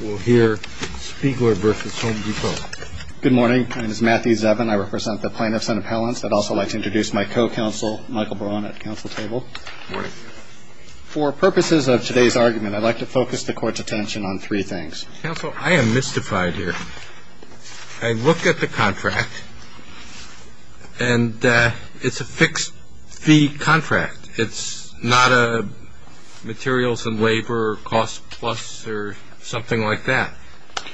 We'll hear Spiegler v. Home Depot. Good morning. My name is Matthew Zevin. I represent the plaintiffs and appellants. I'd also like to introduce my co-counsel, Michael Braun, at the counsel table. Good morning. For purposes of today's argument, I'd like to focus the court's attention on three things. Counsel, I am mystified here. I look at the contract, and it's a fixed-fee contract. It's not a materials and labor, cost plus, or something like that.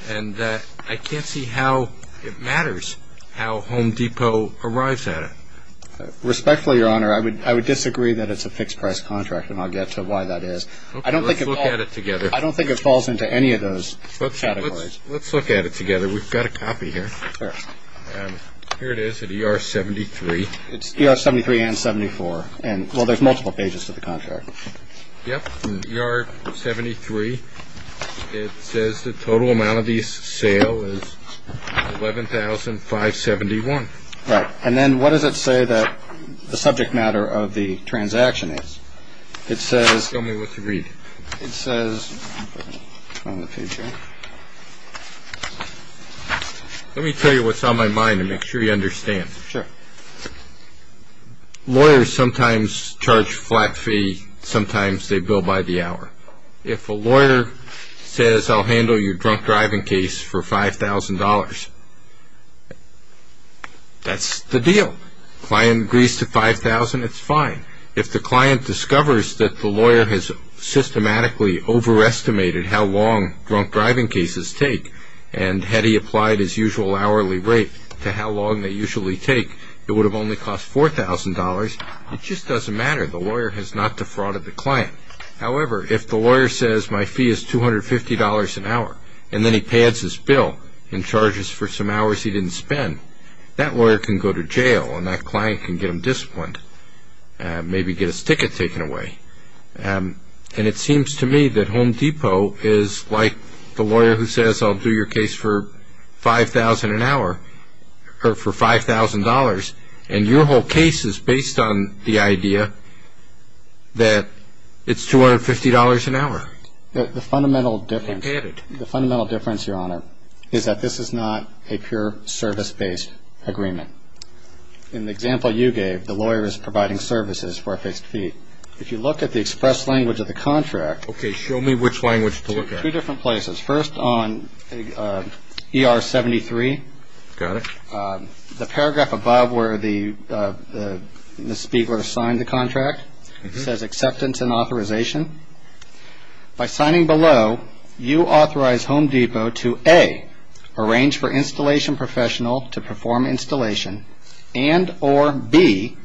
And I can't see how it matters how Home Depot arrives at it. Respectfully, Your Honor, I would disagree that it's a fixed-price contract, and I'll get to why that is. Let's look at it together. I don't think it falls into any of those categories. Let's look at it together. We've got a copy here. Here it is at ER 73. It's ER 73 and 74. Well, there's multiple pages to the contract. Yep. ER 73. It says the total amount of the sale is $11,571. Right. And then what does it say that the subject matter of the transaction is? It says... Tell me what to read. It says... Let me tell you what's on my mind and make sure you understand. Sure. Lawyers sometimes charge flat fee. Sometimes they bill by the hour. If a lawyer says, I'll handle your drunk-driving case for $5,000, that's the deal. Client agrees to $5,000, it's fine. If the client discovers that the lawyer has systematically overestimated how long drunk-driving cases take, and had he applied his usual hourly rate to how long they usually take, it would have only cost $4,000. It just doesn't matter. The lawyer has not defrauded the client. However, if the lawyer says, my fee is $250 an hour, and then he pads his bill and charges for some hours he didn't spend, that lawyer can go to jail and that client can get him disciplined, maybe get his ticket taken away. And it seems to me that Home Depot is like the lawyer who says, I'll do your case for $5,000 an hour, or for $5,000, and your whole case is based on the idea that it's $250 an hour. The fundamental difference, Your Honor, is that this is not a pure service-based agreement. In the example you gave, the lawyer is providing services for a fixed fee. If you look at the express language of the contract. Okay, show me which language to look at. Two different places. First, on ER 73. Got it. The paragraph above where Ms. Spiegler signed the contract says acceptance and authorization. By signing below, you authorize Home Depot to A, arrange for installation professional to perform installation, and or B,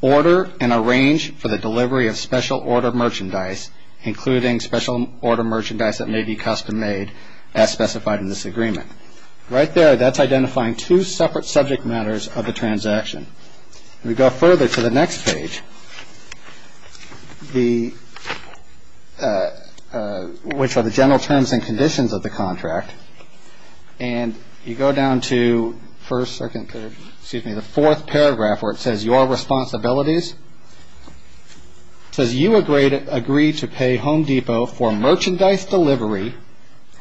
order and arrange for the delivery of special order merchandise, including special order merchandise that may be custom made as specified in this agreement. Right there, that's identifying two separate subject matters of the transaction. If we go further to the next page, which are the general terms and conditions of the contract, and you go down to the fourth paragraph where it says your responsibilities, it says you agree to pay Home Depot for merchandise delivery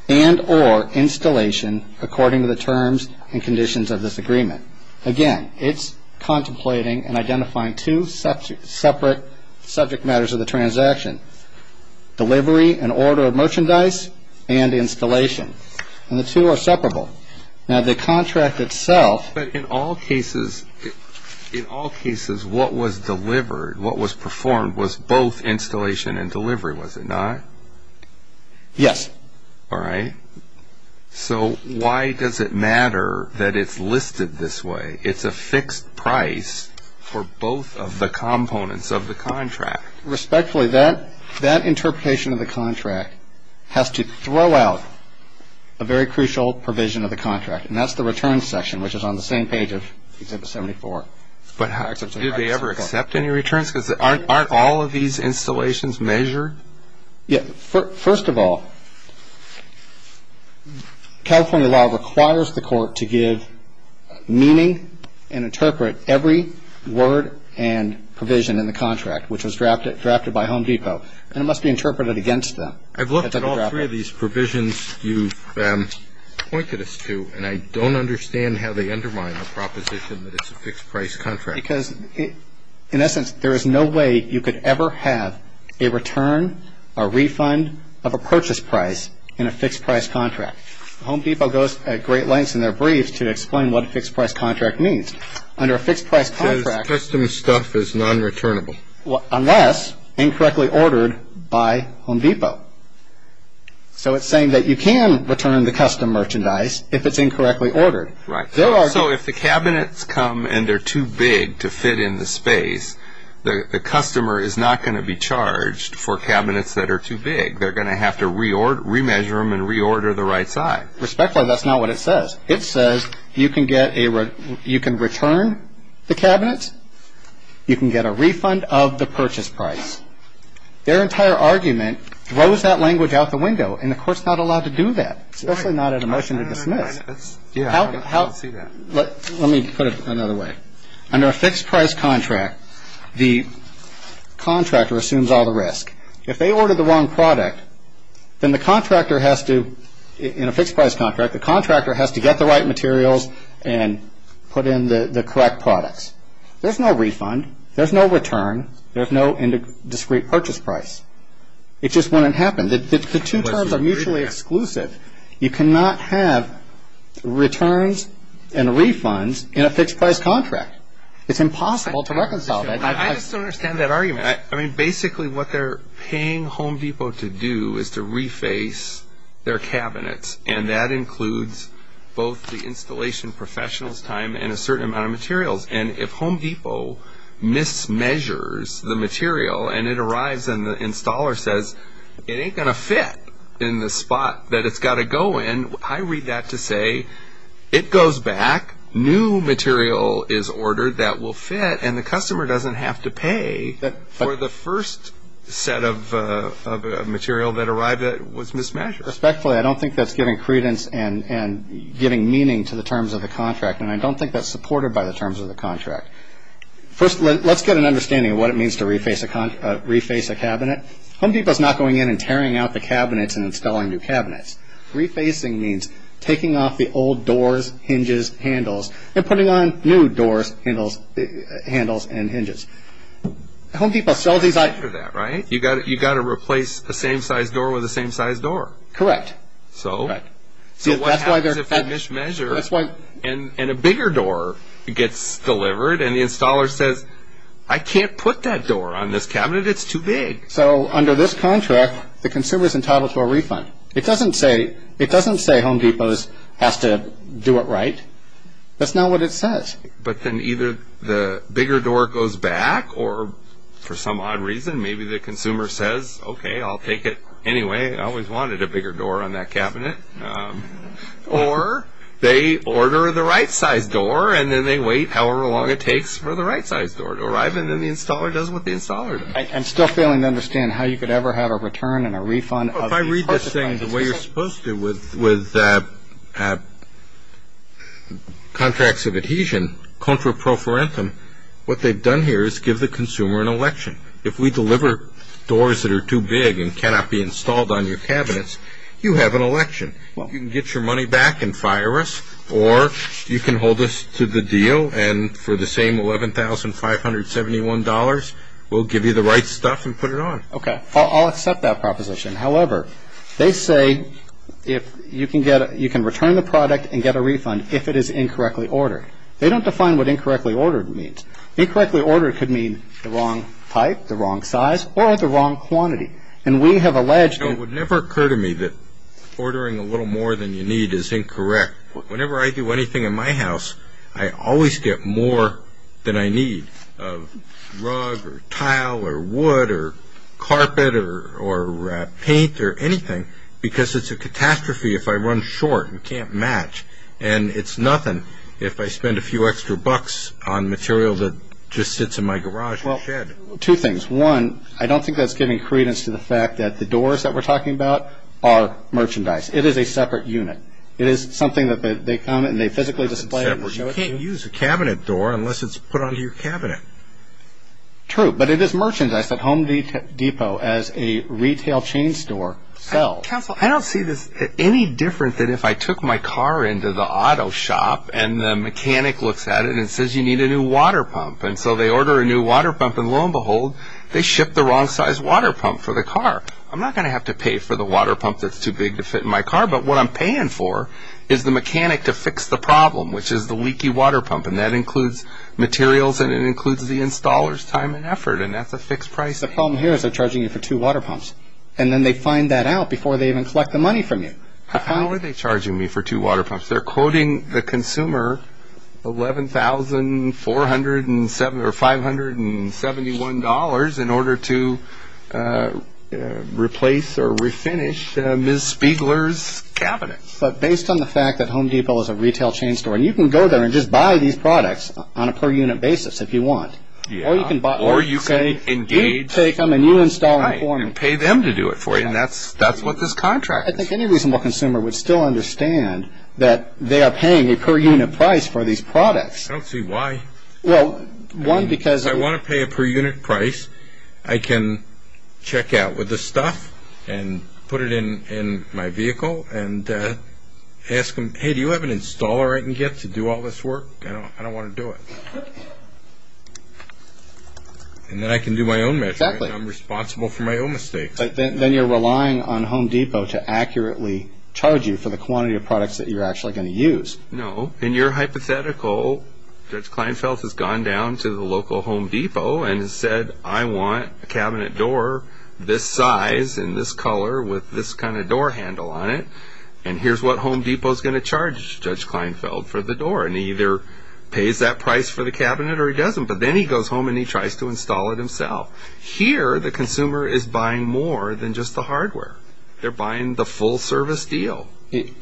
and or installation according to the terms and conditions of this agreement. Again, it's contemplating and identifying two separate subject matters of the transaction, delivery and order of merchandise and installation, and the two are separable. Now, the contract itself. But in all cases, what was delivered, what was performed was both installation and delivery, was it not? Yes. All right. So why does it matter that it's listed this way? It's a fixed price for both of the components of the contract. Respectfully, that interpretation of the contract has to throw out a very crucial provision of the contract, and that's the return section, which is on the same page of Exhibit 74. But did they ever accept any returns? Because aren't all of these installations measured? Yes. First of all, California law requires the court to give meaning and interpret every word and provision in the contract, which was drafted by Home Depot, and it must be interpreted against them. I've looked at all three of these provisions you've pointed us to, and I don't understand how they undermine the proposition that it's a fixed price contract. Because in essence, there is no way you could ever have a return, a refund of a purchase price in a fixed price contract. Home Depot goes at great lengths in their briefs to explain what a fixed price contract means. Under a fixed price contract. Custom stuff is non-returnable. Unless incorrectly ordered by Home Depot. So it's saying that you can return the custom merchandise if it's incorrectly ordered. Right. So if the cabinets come and they're too big to fit in the space, the customer is not going to be charged for cabinets that are too big. They're going to have to remeasure them and reorder the right side. Respectfully, that's not what it says. It says you can return the cabinets. You can get a refund of the purchase price. Their entire argument throws that language out the window, and the court's not allowed to do that, especially not at a motion to dismiss. Yeah, I don't see that. Let me put it another way. Under a fixed price contract, the contractor assumes all the risk. If they ordered the wrong product, then the contractor has to, in a fixed price contract, the contractor has to get the right materials and put in the correct products. There's no refund. There's no return. There's no discrete purchase price. It just wouldn't happen. The two terms are mutually exclusive. You cannot have returns and refunds in a fixed price contract. It's impossible to reconcile that. I just don't understand that argument. I mean, basically what they're paying Home Depot to do is to reface their cabinets, and that includes both the installation professional's time and a certain amount of materials. And if Home Depot mismeasures the material and it arrives and the installer says it ain't going to fit in the spot that it's got to go in, I read that to say it goes back, new material is ordered that will fit, and the customer doesn't have to pay for the first set of material that arrived that was mismeasured. Respectfully, I don't think that's giving credence and giving meaning to the terms of the contract, and I don't think that's supported by the terms of the contract. First, let's get an understanding of what it means to reface a cabinet. Home Depot is not going in and tearing out the cabinets and installing new cabinets. Refacing means taking off the old doors, hinges, handles, and putting on new doors, handles, and hinges. Home Depot sells these items. You've got to replace a same-size door with a same-size door. Correct. So what happens if they mismeasure and a bigger door gets delivered and the installer says, I can't put that door on this cabinet, it's too big. So under this contract, the consumer is entitled to a refund. It doesn't say Home Depot has to do it right. That's not what it says. But then either the bigger door goes back, or for some odd reason, maybe the consumer says, okay, I'll take it anyway. I always wanted a bigger door on that cabinet. Or they order the right-size door, and then they wait however long it takes for the right-size door to arrive, and then the installer does what the installer does. I'm still failing to understand how you could ever have a return and a refund. If I read this thing the way you're supposed to with contracts of adhesion, contra pro forentum, what they've done here is give the consumer an election. If we deliver doors that are too big and cannot be installed on your cabinets, you have an election. You can get your money back and fire us, or you can hold us to the deal, and for the same $11,571, we'll give you the right stuff and put it on. Okay. I'll accept that proposition. However, they say you can return the product and get a refund if it is incorrectly ordered. They don't define what incorrectly ordered means. Incorrectly ordered could mean the wrong type, the wrong size, or the wrong quantity. And we have alleged that… It would never occur to me that ordering a little more than you need is incorrect. Whenever I do anything in my house, I always get more than I need of rug or tile or wood or carpet or paint or anything, because it's a catastrophe if I run short and can't match. And it's nothing if I spend a few extra bucks on material that just sits in my garage and shed. Well, two things. One, I don't think that's giving credence to the fact that the doors that we're talking about are merchandise. It is a separate unit. It is something that they come and they physically display it and show it to you. It's separate. You can't use a cabinet door unless it's put under your cabinet. True, but it is merchandise that Home Depot, as a retail chain store, sells. Counsel, I don't see this any different than if I took my car into the auto shop and the mechanic looks at it and says, you need a new water pump. And so they order a new water pump, and lo and behold, they ship the wrong size water pump for the car. I'm not going to have to pay for the water pump that's too big to fit in my car, but what I'm paying for is the mechanic to fix the problem, which is the leaky water pump. And that includes materials and it includes the installer's time and effort, and that's a fixed price. The problem here is they're charging you for two water pumps, and then they find that out before they even collect the money from you. How are they charging me for two water pumps? They're quoting the consumer $11,471 in order to replace or refinish Ms. Spiegler's cabinet. But based on the fact that Home Depot is a retail chain store, and you can go there and just buy these products on a per-unit basis if you want. Or you can buy them and say, we take them and you install them for me. Right, and pay them to do it for you, and that's what this contract is. I think any reasonable consumer would still understand that they are paying a per-unit price for these products. I don't see why. Well, one, because... If I want to pay a per-unit price, I can check out with the stuff and put it in my vehicle and ask them, hey, do you have an installer I can get to do all this work? I don't want to do it. And then I can do my own measuring. Exactly. I'm responsible for my own mistakes. Then you're relying on Home Depot to accurately charge you for the quantity of products that you're actually going to use. No. In your hypothetical, Judge Kleinfeld has gone down to the local Home Depot and has said, I want a cabinet door this size and this color with this kind of door handle on it, and here's what Home Depot is going to charge Judge Kleinfeld for the door. And he either pays that price for the cabinet or he doesn't. But then he goes home and he tries to install it himself. Here, the consumer is buying more than just the hardware. They're buying the full service deal.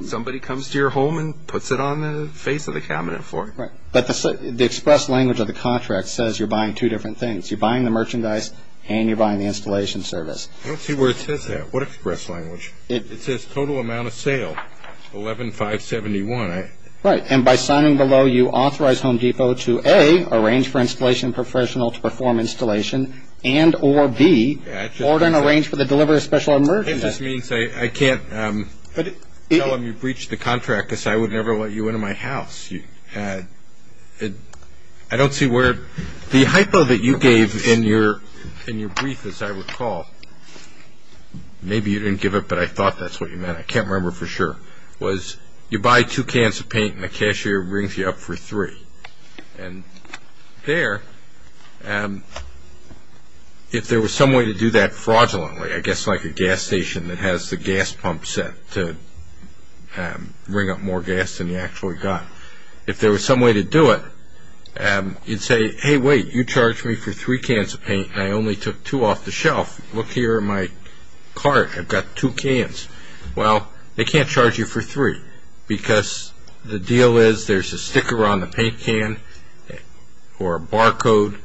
Somebody comes to your home and puts it on the face of the cabinet for you. Right. But the express language of the contract says you're buying two different things. You're buying the merchandise and you're buying the installation service. I don't see where it says that. What express language? It says total amount of sale, $11,571. Right. And by signing below, you authorize Home Depot to A, arrange for installation professional to perform installation, and or B, order and arrange for the delivery of special merchandise. This means I can't tell them you breached the contract because I would never let you into my house. I don't see where the hypo that you gave in your brief, as I recall, maybe you didn't give it but I thought that's what you meant, I can't remember for sure, was you buy two cans of paint and the cashier brings you up for three. And there, if there was some way to do that fraudulently, I guess like a gas station that has the gas pump set to bring up more gas than you actually got, if there was some way to do it, you'd say, hey, wait, you charged me for three cans of paint and I only took two off the shelf. Look here in my cart, I've got two cans. Well, they can't charge you for three because the deal is there's a sticker on the paint can or a barcode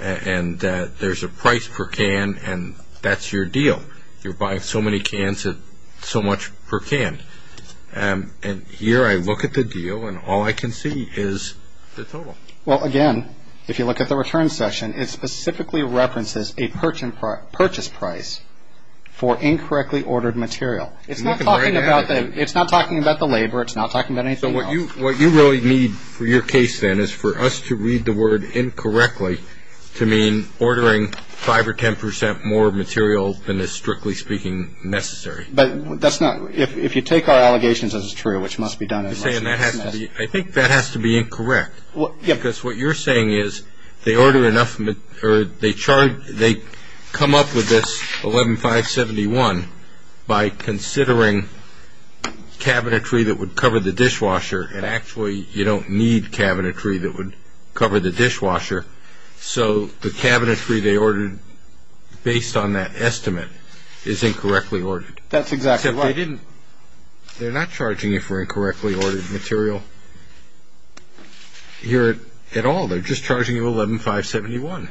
and there's a price per can and that's your deal. You're buying so many cans at so much per can. And here I look at the deal and all I can see is the total. Well, again, if you look at the return section, it specifically references a purchase price for incorrectly ordered material. It's not talking about the labor, it's not talking about anything at all. So what you really need for your case then is for us to read the word incorrectly to mean ordering five or ten percent more material than is, strictly speaking, necessary. But that's not, if you take our allegations as true, which must be done. I think that has to be incorrect. Because what you're saying is they come up with this $11,571 by considering cabinetry that would cover the dishwasher and actually you don't need cabinetry that would cover the dishwasher. So the cabinetry they ordered based on that estimate is incorrectly ordered. That's exactly right. They're not charging you for incorrectly ordered material here at all. They're just charging you $11,571.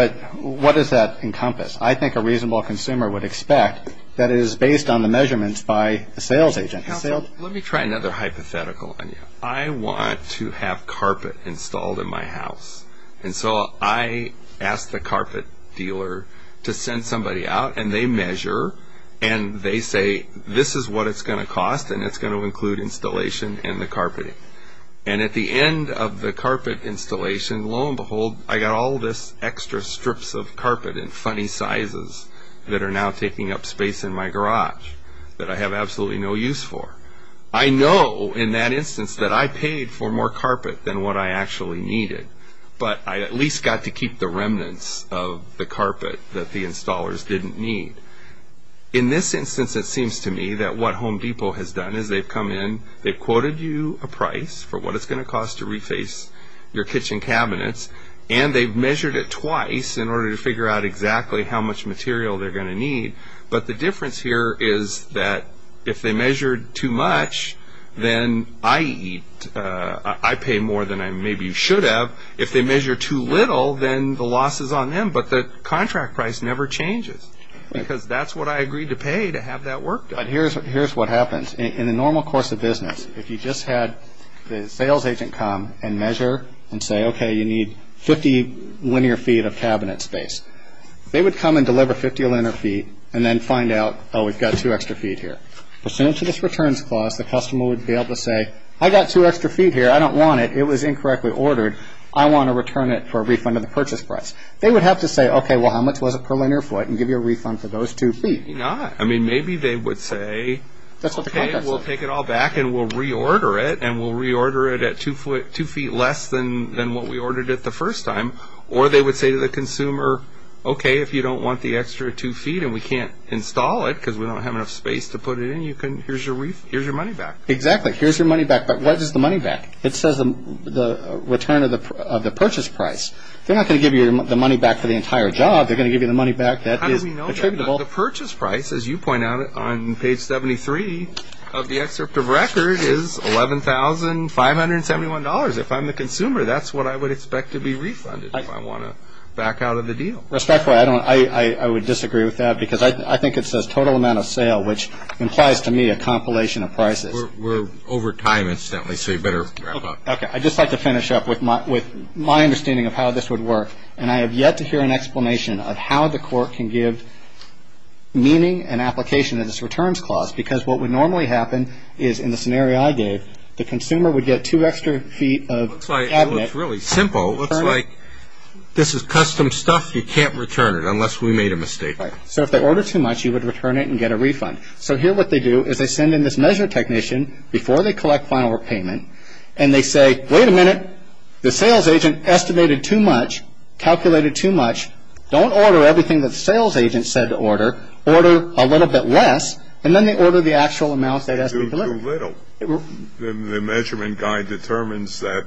But what does that encompass? I think a reasonable consumer would expect that it is based on the measurements by a sales agent. Let me try another hypothetical on you. I want to have carpet installed in my house. And so I ask the carpet dealer to send somebody out and they measure and they say this is what it's going to cost and it's going to include installation and the carpeting. And at the end of the carpet installation, lo and behold, I got all this extra strips of carpet in funny sizes that are now taking up space in my garage that I have absolutely no use for. I know in that instance that I paid for more carpet than what I actually needed. But I at least got to keep the remnants of the carpet that the installers didn't need. In this instance, it seems to me that what Home Depot has done is they've come in, they've quoted you a price for what it's going to cost to reface your kitchen cabinets, and they've measured it twice in order to figure out exactly how much material they're going to need. But the difference here is that if they measured too much, then I eat, I pay more than I maybe should have. If they measure too little, then the loss is on them, but the contract price never changes because that's what I agreed to pay to have that work done. Here's what happens. In a normal course of business, if you just had the sales agent come and measure and say, okay, you need 50 linear feet of cabinet space, they would come and deliver 50 linear feet and then find out, oh, we've got two extra feet here. Pursuant to this returns clause, the customer would be able to say, I've got two extra feet here, I don't want it, it was incorrectly ordered, I want to return it for a refund of the purchase price. They would have to say, okay, well, how much was it per linear foot, and give you a refund for those two feet. Maybe not. I mean, maybe they would say, okay, we'll take it all back and we'll reorder it, and we'll reorder it at two feet less than what we ordered it the first time. Or they would say to the consumer, okay, if you don't want the extra two feet and we can't install it because we don't have enough space to put it in, here's your money back. Exactly. Here's your money back. But what is the money back? It says the return of the purchase price. They're not going to give you the money back for the entire job. They're going to give you the money back that is attributable. How do we know that? The purchase price, as you point out on page 73 of the excerpt of record, is $11,571. If I'm the consumer, that's what I would expect to be refunded if I want to back out of the deal. Respectfully, I would disagree with that because I think it says total amount of sale, which implies to me a compilation of prices. We're over time, incidentally, so you better wrap up. Okay. I'd just like to finish up with my understanding of how this would work, and I have yet to hear an explanation of how the court can give meaning and application of this returns clause because what would normally happen is in the scenario I gave, the consumer would get two extra feet of cabinet. It looks really simple. It looks like this is custom stuff. You can't return it unless we made a mistake. Right. So if they order too much, you would return it and get a refund. So here what they do is they send in this measure technician before they collect final repayment, and they say, wait a minute, the sales agent estimated too much, calculated too much. Don't order everything that the sales agent said to order. Order a little bit less, and then they order the actual amounts they'd estimate to deliver. Too little. The measurement guy determines that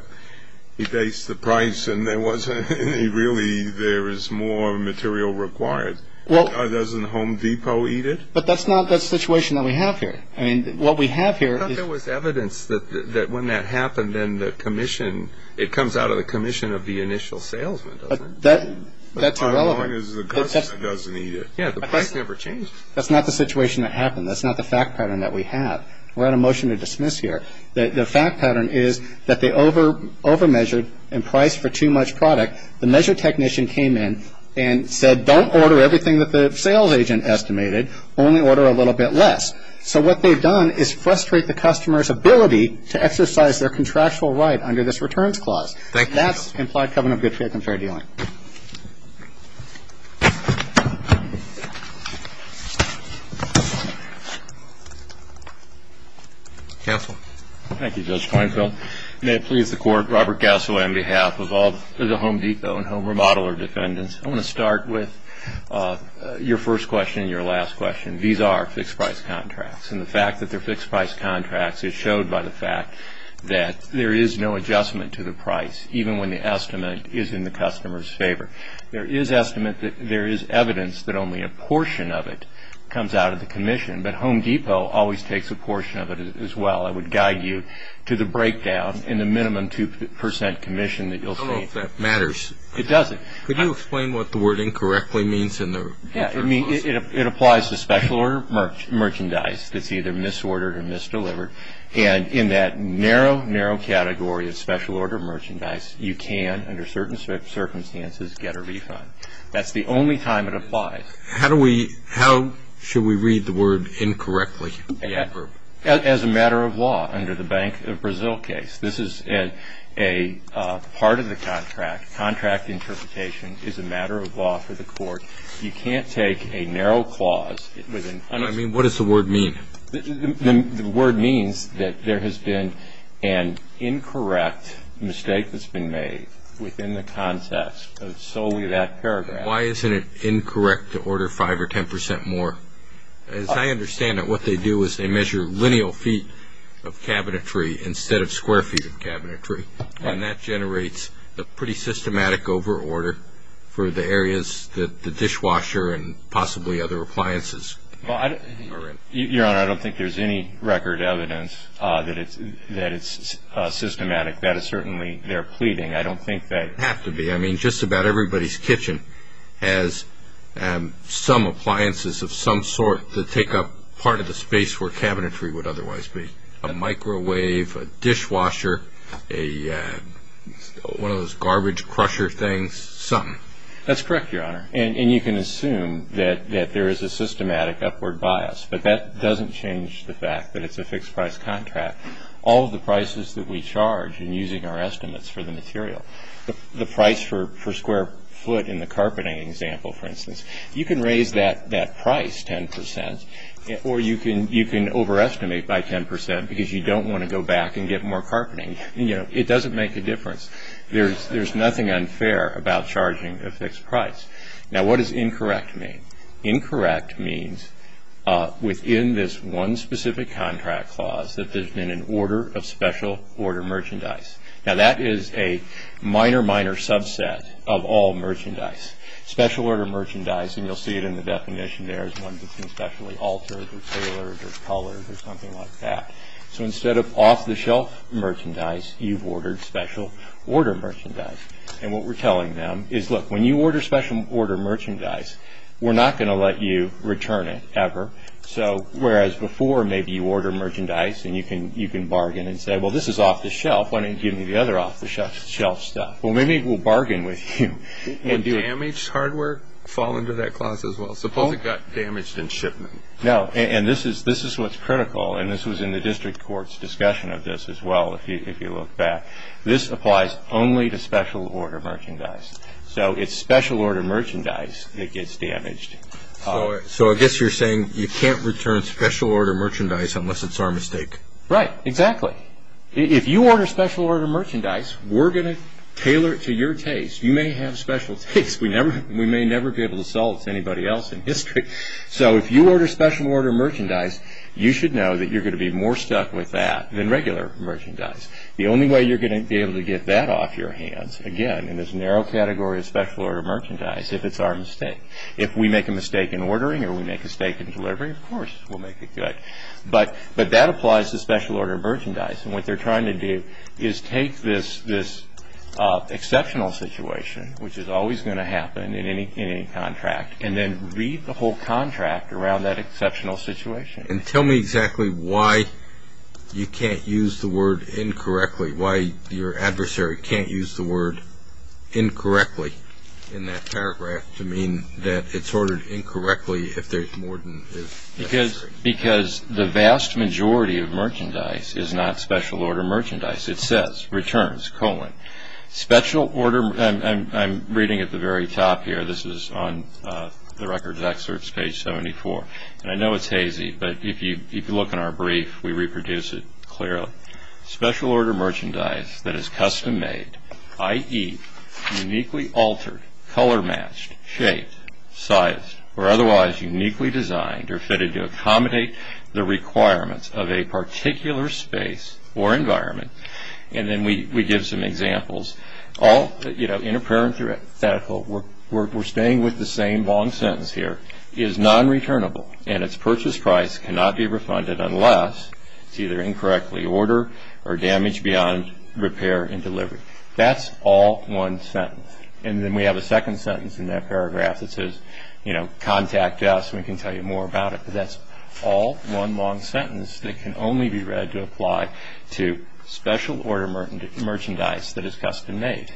he based the price, and really there is more material required. Doesn't Home Depot eat it? But that's not the situation that we have here. I mean, what we have here is – I thought there was evidence that when that happened, then the commission, it comes out of the commission of the initial salesman, doesn't it? That's irrelevant. As long as the customer doesn't eat it. Yeah, the price never changes. That's not the situation that happened. That's not the fact pattern that we have. We're at a motion to dismiss here. The fact pattern is that they over-measured and priced for too much product. The measure technician came in and said, don't order everything that the sales agent estimated. Only order a little bit less. So what they've done is frustrate the customer's ability to exercise their contractual right under this returns clause. Thank you. And that's implied covenant of good faith and fair dealing. Counsel. Thank you, Judge Kleinfeld. May it please the Court, Robert Gasso on behalf of all the Home Depot and Home Remodeler defendants, I want to start with your first question and your last question. These are fixed price contracts, and the fact that they're fixed price contracts is showed by the fact that there is no adjustment to the price, even when the estimate is in the customer's favor. There is estimate that there is evidence that only a portion of it comes out of the commission, but Home Depot always takes a portion of it as well. I would guide you to the breakdown in the minimum 2% commission that you'll see. I don't know if that matters. It doesn't. Could you explain what the word incorrectly means in the returns clause? It applies to special order merchandise that's either misordered or misdelivered. And in that narrow, narrow category of special order merchandise, you can, under certain circumstances, get a refund. That's the only time it applies. How should we read the word incorrectly? As a matter of law under the Bank of Brazil case. This is a part of the contract. Contract interpretation is a matter of law for the court. You can't take a narrow clause. What does the word mean? The word means that there has been an incorrect mistake that's been made within the context of solely that paragraph. Why isn't it incorrect to order 5% or 10% more? As I understand it, what they do is they measure lineal feet of cabinetry instead of square feet of cabinetry. And that generates a pretty systematic over-order for the areas that the dishwasher and possibly other appliances are in. Your Honor, I don't think there's any record evidence that it's systematic. That is certainly their pleading. I don't think that has to be. I mean, just about everybody's kitchen has some appliances of some sort that take up part of the space where cabinetry would otherwise be. A microwave, a dishwasher, one of those garbage crusher things, something. That's correct, Your Honor. And you can assume that there is a systematic upward bias. But that doesn't change the fact that it's a fixed-price contract. All of the prices that we charge in using our estimates for the material, the price for square foot in the carpeting example, for instance, you can raise that price 10% or you can overestimate by 10% because you don't want to go back and get more carpeting. You know, it doesn't make a difference. There's nothing unfair about charging a fixed price. Now, what does incorrect mean? Incorrect means within this one specific contract clause that there's been an order of special order merchandise. Now, that is a minor, minor subset of all merchandise. Special order merchandise, and you'll see it in the definition there, is one that's been specially altered or tailored or colored or something like that. So instead of off-the-shelf merchandise, you've ordered special order merchandise. And what we're telling them is, look, when you order special order merchandise, we're not going to let you return it ever. So whereas before, maybe you order merchandise and you can bargain and say, well, this is off-the-shelf. Why don't you give me the other off-the-shelf stuff? Well, maybe we'll bargain with you. And damaged hardware fall under that clause as well. Suppose it got damaged in shipment. No, and this is what's critical, and this was in the district court's discussion of this as well, if you look back. This applies only to special order merchandise. So it's special order merchandise that gets damaged. So I guess you're saying you can't return special order merchandise unless it's our mistake. Right, exactly. If you order special order merchandise, we're going to tailor it to your taste. You may have special taste. We may never be able to sell it to anybody else in history. So if you order special order merchandise, you should know that you're going to be more stuck with that than regular merchandise. The only way you're going to be able to get that off your hands, again, in this narrow category of special order merchandise, if it's our mistake. If we make a mistake in ordering or we make a mistake in delivery, of course we'll make it good. But that applies to special order merchandise. And what they're trying to do is take this exceptional situation, which is always going to happen in any contract, and then read the whole contract around that exceptional situation. And tell me exactly why you can't use the word incorrectly, why your adversary can't use the word incorrectly in that paragraph to mean that it's ordered incorrectly if there's more than is necessary. Because the vast majority of merchandise is not special order merchandise. It says, returns, colon, special order. I'm reading at the very top here. This is on the records excerpts, page 74. And I know it's hazy, but if you look in our brief, we reproduce it clearly. Special order merchandise that is custom made, i.e., uniquely altered, color matched, shaped, sized, or otherwise uniquely designed or fitted to accommodate the requirements of a particular space or environment. And then we give some examples. All, you know, interparency, we're staying with the same long sentence here, is non-returnable and its purchase price cannot be refunded unless it's either incorrectly ordered or damaged beyond repair and delivery. That's all one sentence. And then we have a second sentence in that paragraph that says, you know, contact us, we can tell you more about it. But that's all one long sentence that can only be read to apply to special order merchandise that is custom made.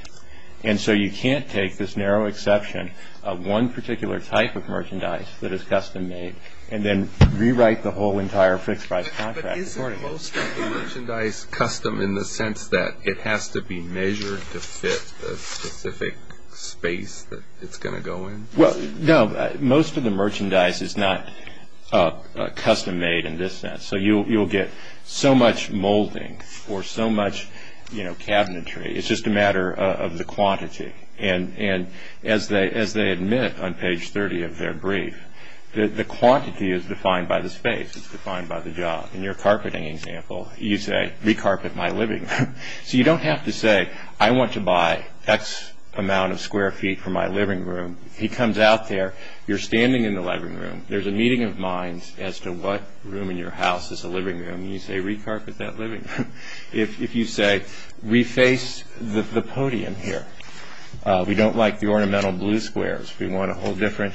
And so you can't take this narrow exception of one particular type of merchandise that is custom made and then rewrite the whole entire fixed price contract. Is most of the merchandise custom in the sense that it has to be measured to fit the specific space that it's going to go in? Well, no. Most of the merchandise is not custom made in this sense. So you'll get so much molding or so much, you know, cabinetry. It's just a matter of the quantity. And as they admit on page 30 of their brief, the quantity is defined by the space. It's defined by the job. In your carpeting example, you say, re-carpet my living room. So you don't have to say, I want to buy X amount of square feet for my living room. He comes out there. You're standing in the living room. There's a meeting of minds as to what room in your house is a living room. You say, re-carpet that living room. If you say, re-face the podium here. We don't like the ornamental blue squares. We want a whole different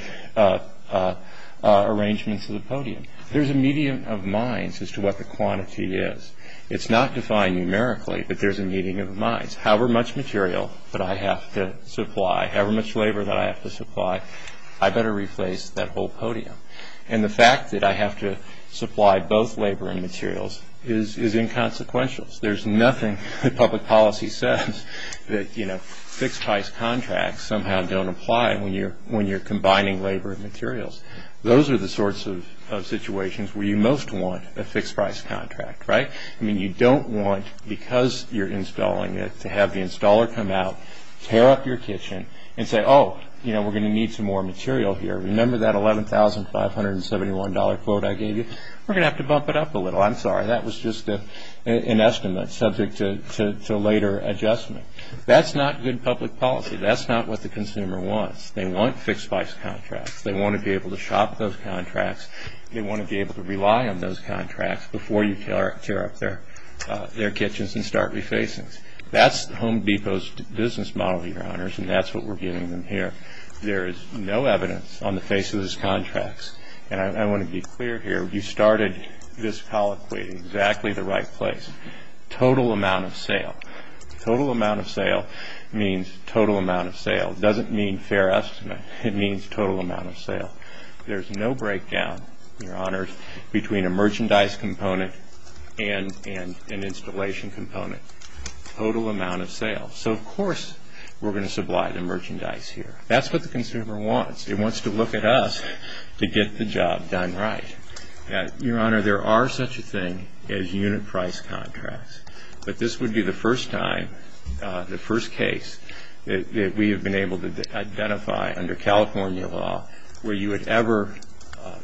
arrangement to the podium. There's a meeting of minds as to what the quantity is. It's not defined numerically, but there's a meeting of minds. However much material that I have to supply, however much labor that I have to supply, I better replace that whole podium. And the fact that I have to supply both labor and materials is inconsequential. There's nothing that public policy says that, you know, fixed price contracts somehow don't apply when you're combining labor and materials. Those are the sorts of situations where you most want a fixed price contract, right? I mean, you don't want, because you're installing it, to have the installer come out, tear up your kitchen, and say, oh, you know, we're going to need some more material here. Remember that $11,571 quote I gave you? We're going to have to bump it up a little. I'm sorry, that was just an estimate subject to later adjustment. That's not good public policy. That's not what the consumer wants. They want fixed price contracts. They want to be able to shop those contracts. They want to be able to rely on those contracts before you tear up their kitchens and start refacings. That's Home Depot's business model, your honors, and that's what we're giving them here. There is no evidence on the face of those contracts, and I want to be clear here. You started this colloquy in exactly the right place. Total amount of sale. Total amount of sale means total amount of sale. It doesn't mean fair estimate. It means total amount of sale. There's no breakdown, your honors, between a merchandise component and an installation component. Total amount of sale. So, of course, we're going to supply the merchandise here. That's what the consumer wants. It wants to look at us to get the job done right. Your honor, there are such a thing as unit price contracts, but this would be the first time, the first case that we have been able to identify under California law where you would ever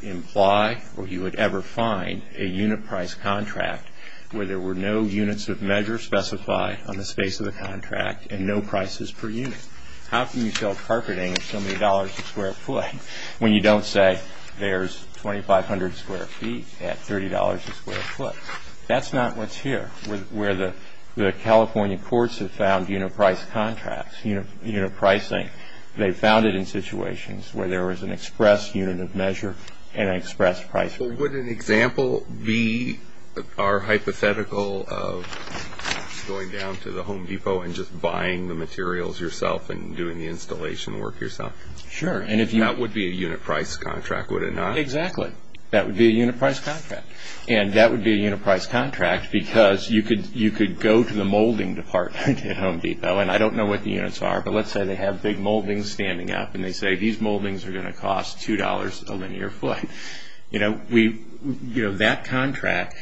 imply or you would ever find a unit price contract where there were no units of measure specified on the space of the contract and no prices per unit. How can you sell carpeting at so many dollars a square foot when you don't say there's 2,500 square feet at $30 a square foot? That's not what's here. Where the California courts have found unit price contracts, unit pricing, they found it in situations where there was an express unit of measure and an express price. Would an example be our hypothetical of going down to the Home Depot and just buying the materials yourself and doing the installation work yourself? Sure. That would be a unit price contract, would it not? Exactly. That would be a unit price contract. And that would be a unit price contract because you could go to the molding department at Home Depot and I don't know what the units are, but let's say they have big moldings standing up and they say these moldings are going to cost $2 a linear foot. That contract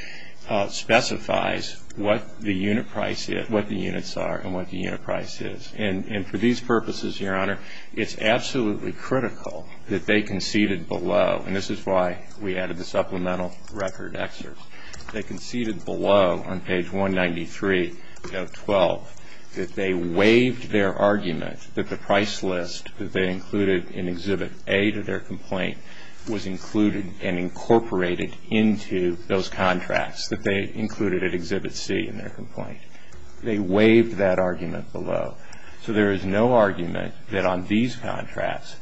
specifies what the unit price is, what the units are, and what the unit price is. And for these purposes, your honor, it's absolutely critical that they conceded below, and this is why we added the supplemental record excerpt, they conceded below on page 193 of 12 that they waived their argument that the price list that they included in Exhibit A to their complaint was included and incorporated into those contracts that they included at Exhibit C in their complaint. They waived that argument below. So there is no argument that on these contracts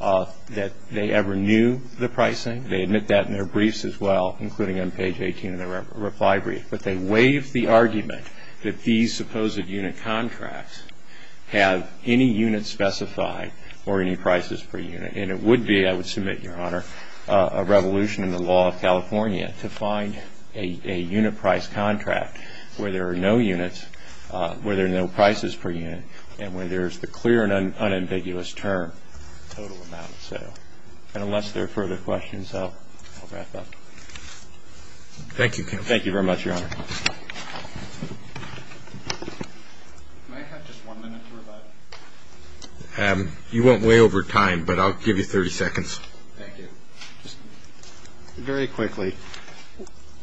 that they ever knew the pricing. They admit that in their briefs as well, including on page 18 of their reply brief. But they waived the argument that these supposed unit contracts have any units specified or any prices per unit. And it would be, I would submit, your honor, a revolution in the law of California to find a unit price contract where there are no units, where there are no prices per unit, and where there is the clear and unambiguous term, total amount of sale. And unless there are further questions, I'll wrap up. Thank you. Thank you very much, your honor. You went way over time, but I'll give you 30 seconds. Thank you. Very quickly.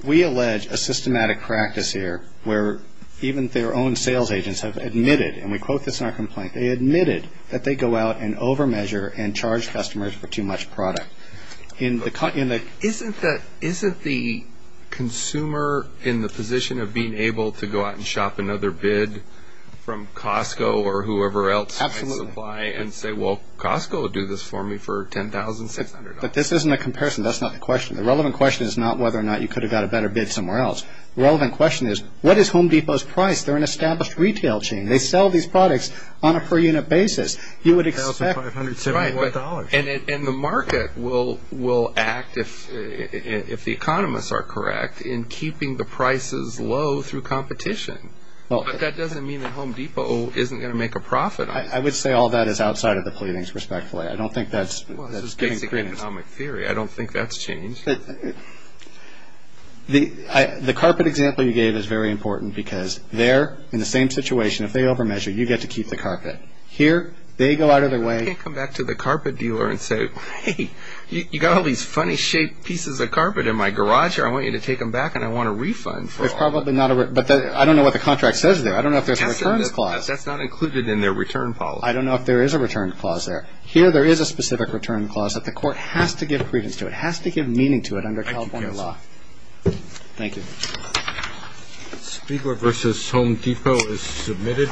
We allege a systematic practice here where even their own sales agents have admitted, and we quote this in our complaint, they admitted that they go out and over-measure and charge customers for too much product. Isn't the consumer in the position of being able to go out and shop another bid from Costco or whoever else might supply and say, well, Costco will do this for me for $10,600. But this isn't a comparison. That's not the question. The relevant question is not whether or not you could have got a better bid somewhere else. The relevant question is, what is Home Depot's price? They're an established retail chain. They sell these products on a per-unit basis. You would expect. $1,500. And the market will act, if the economists are correct, in keeping the prices low through competition. But that doesn't mean that Home Depot isn't going to make a profit. I would say all that is outside of the pleadings, respectfully. Well, this is basic economic theory. I don't think that's changed. The carpet example you gave is very important because they're in the same situation. If they over-measure, you get to keep the carpet. Here, they go out of their way. You can't come back to the carpet dealer and say, hey, you've got all these funny-shaped pieces of carpet in my garage. I want you to take them back, and I want a refund. But I don't know what the contract says there. I don't know if there's a returns clause. That's not included in their return policy. I don't know if there is a return clause there. Here, there is a specific return clause that the court has to give credence to. It has to give meaning to it under California law. Thank you. Speaker versus Home Depot is submitted.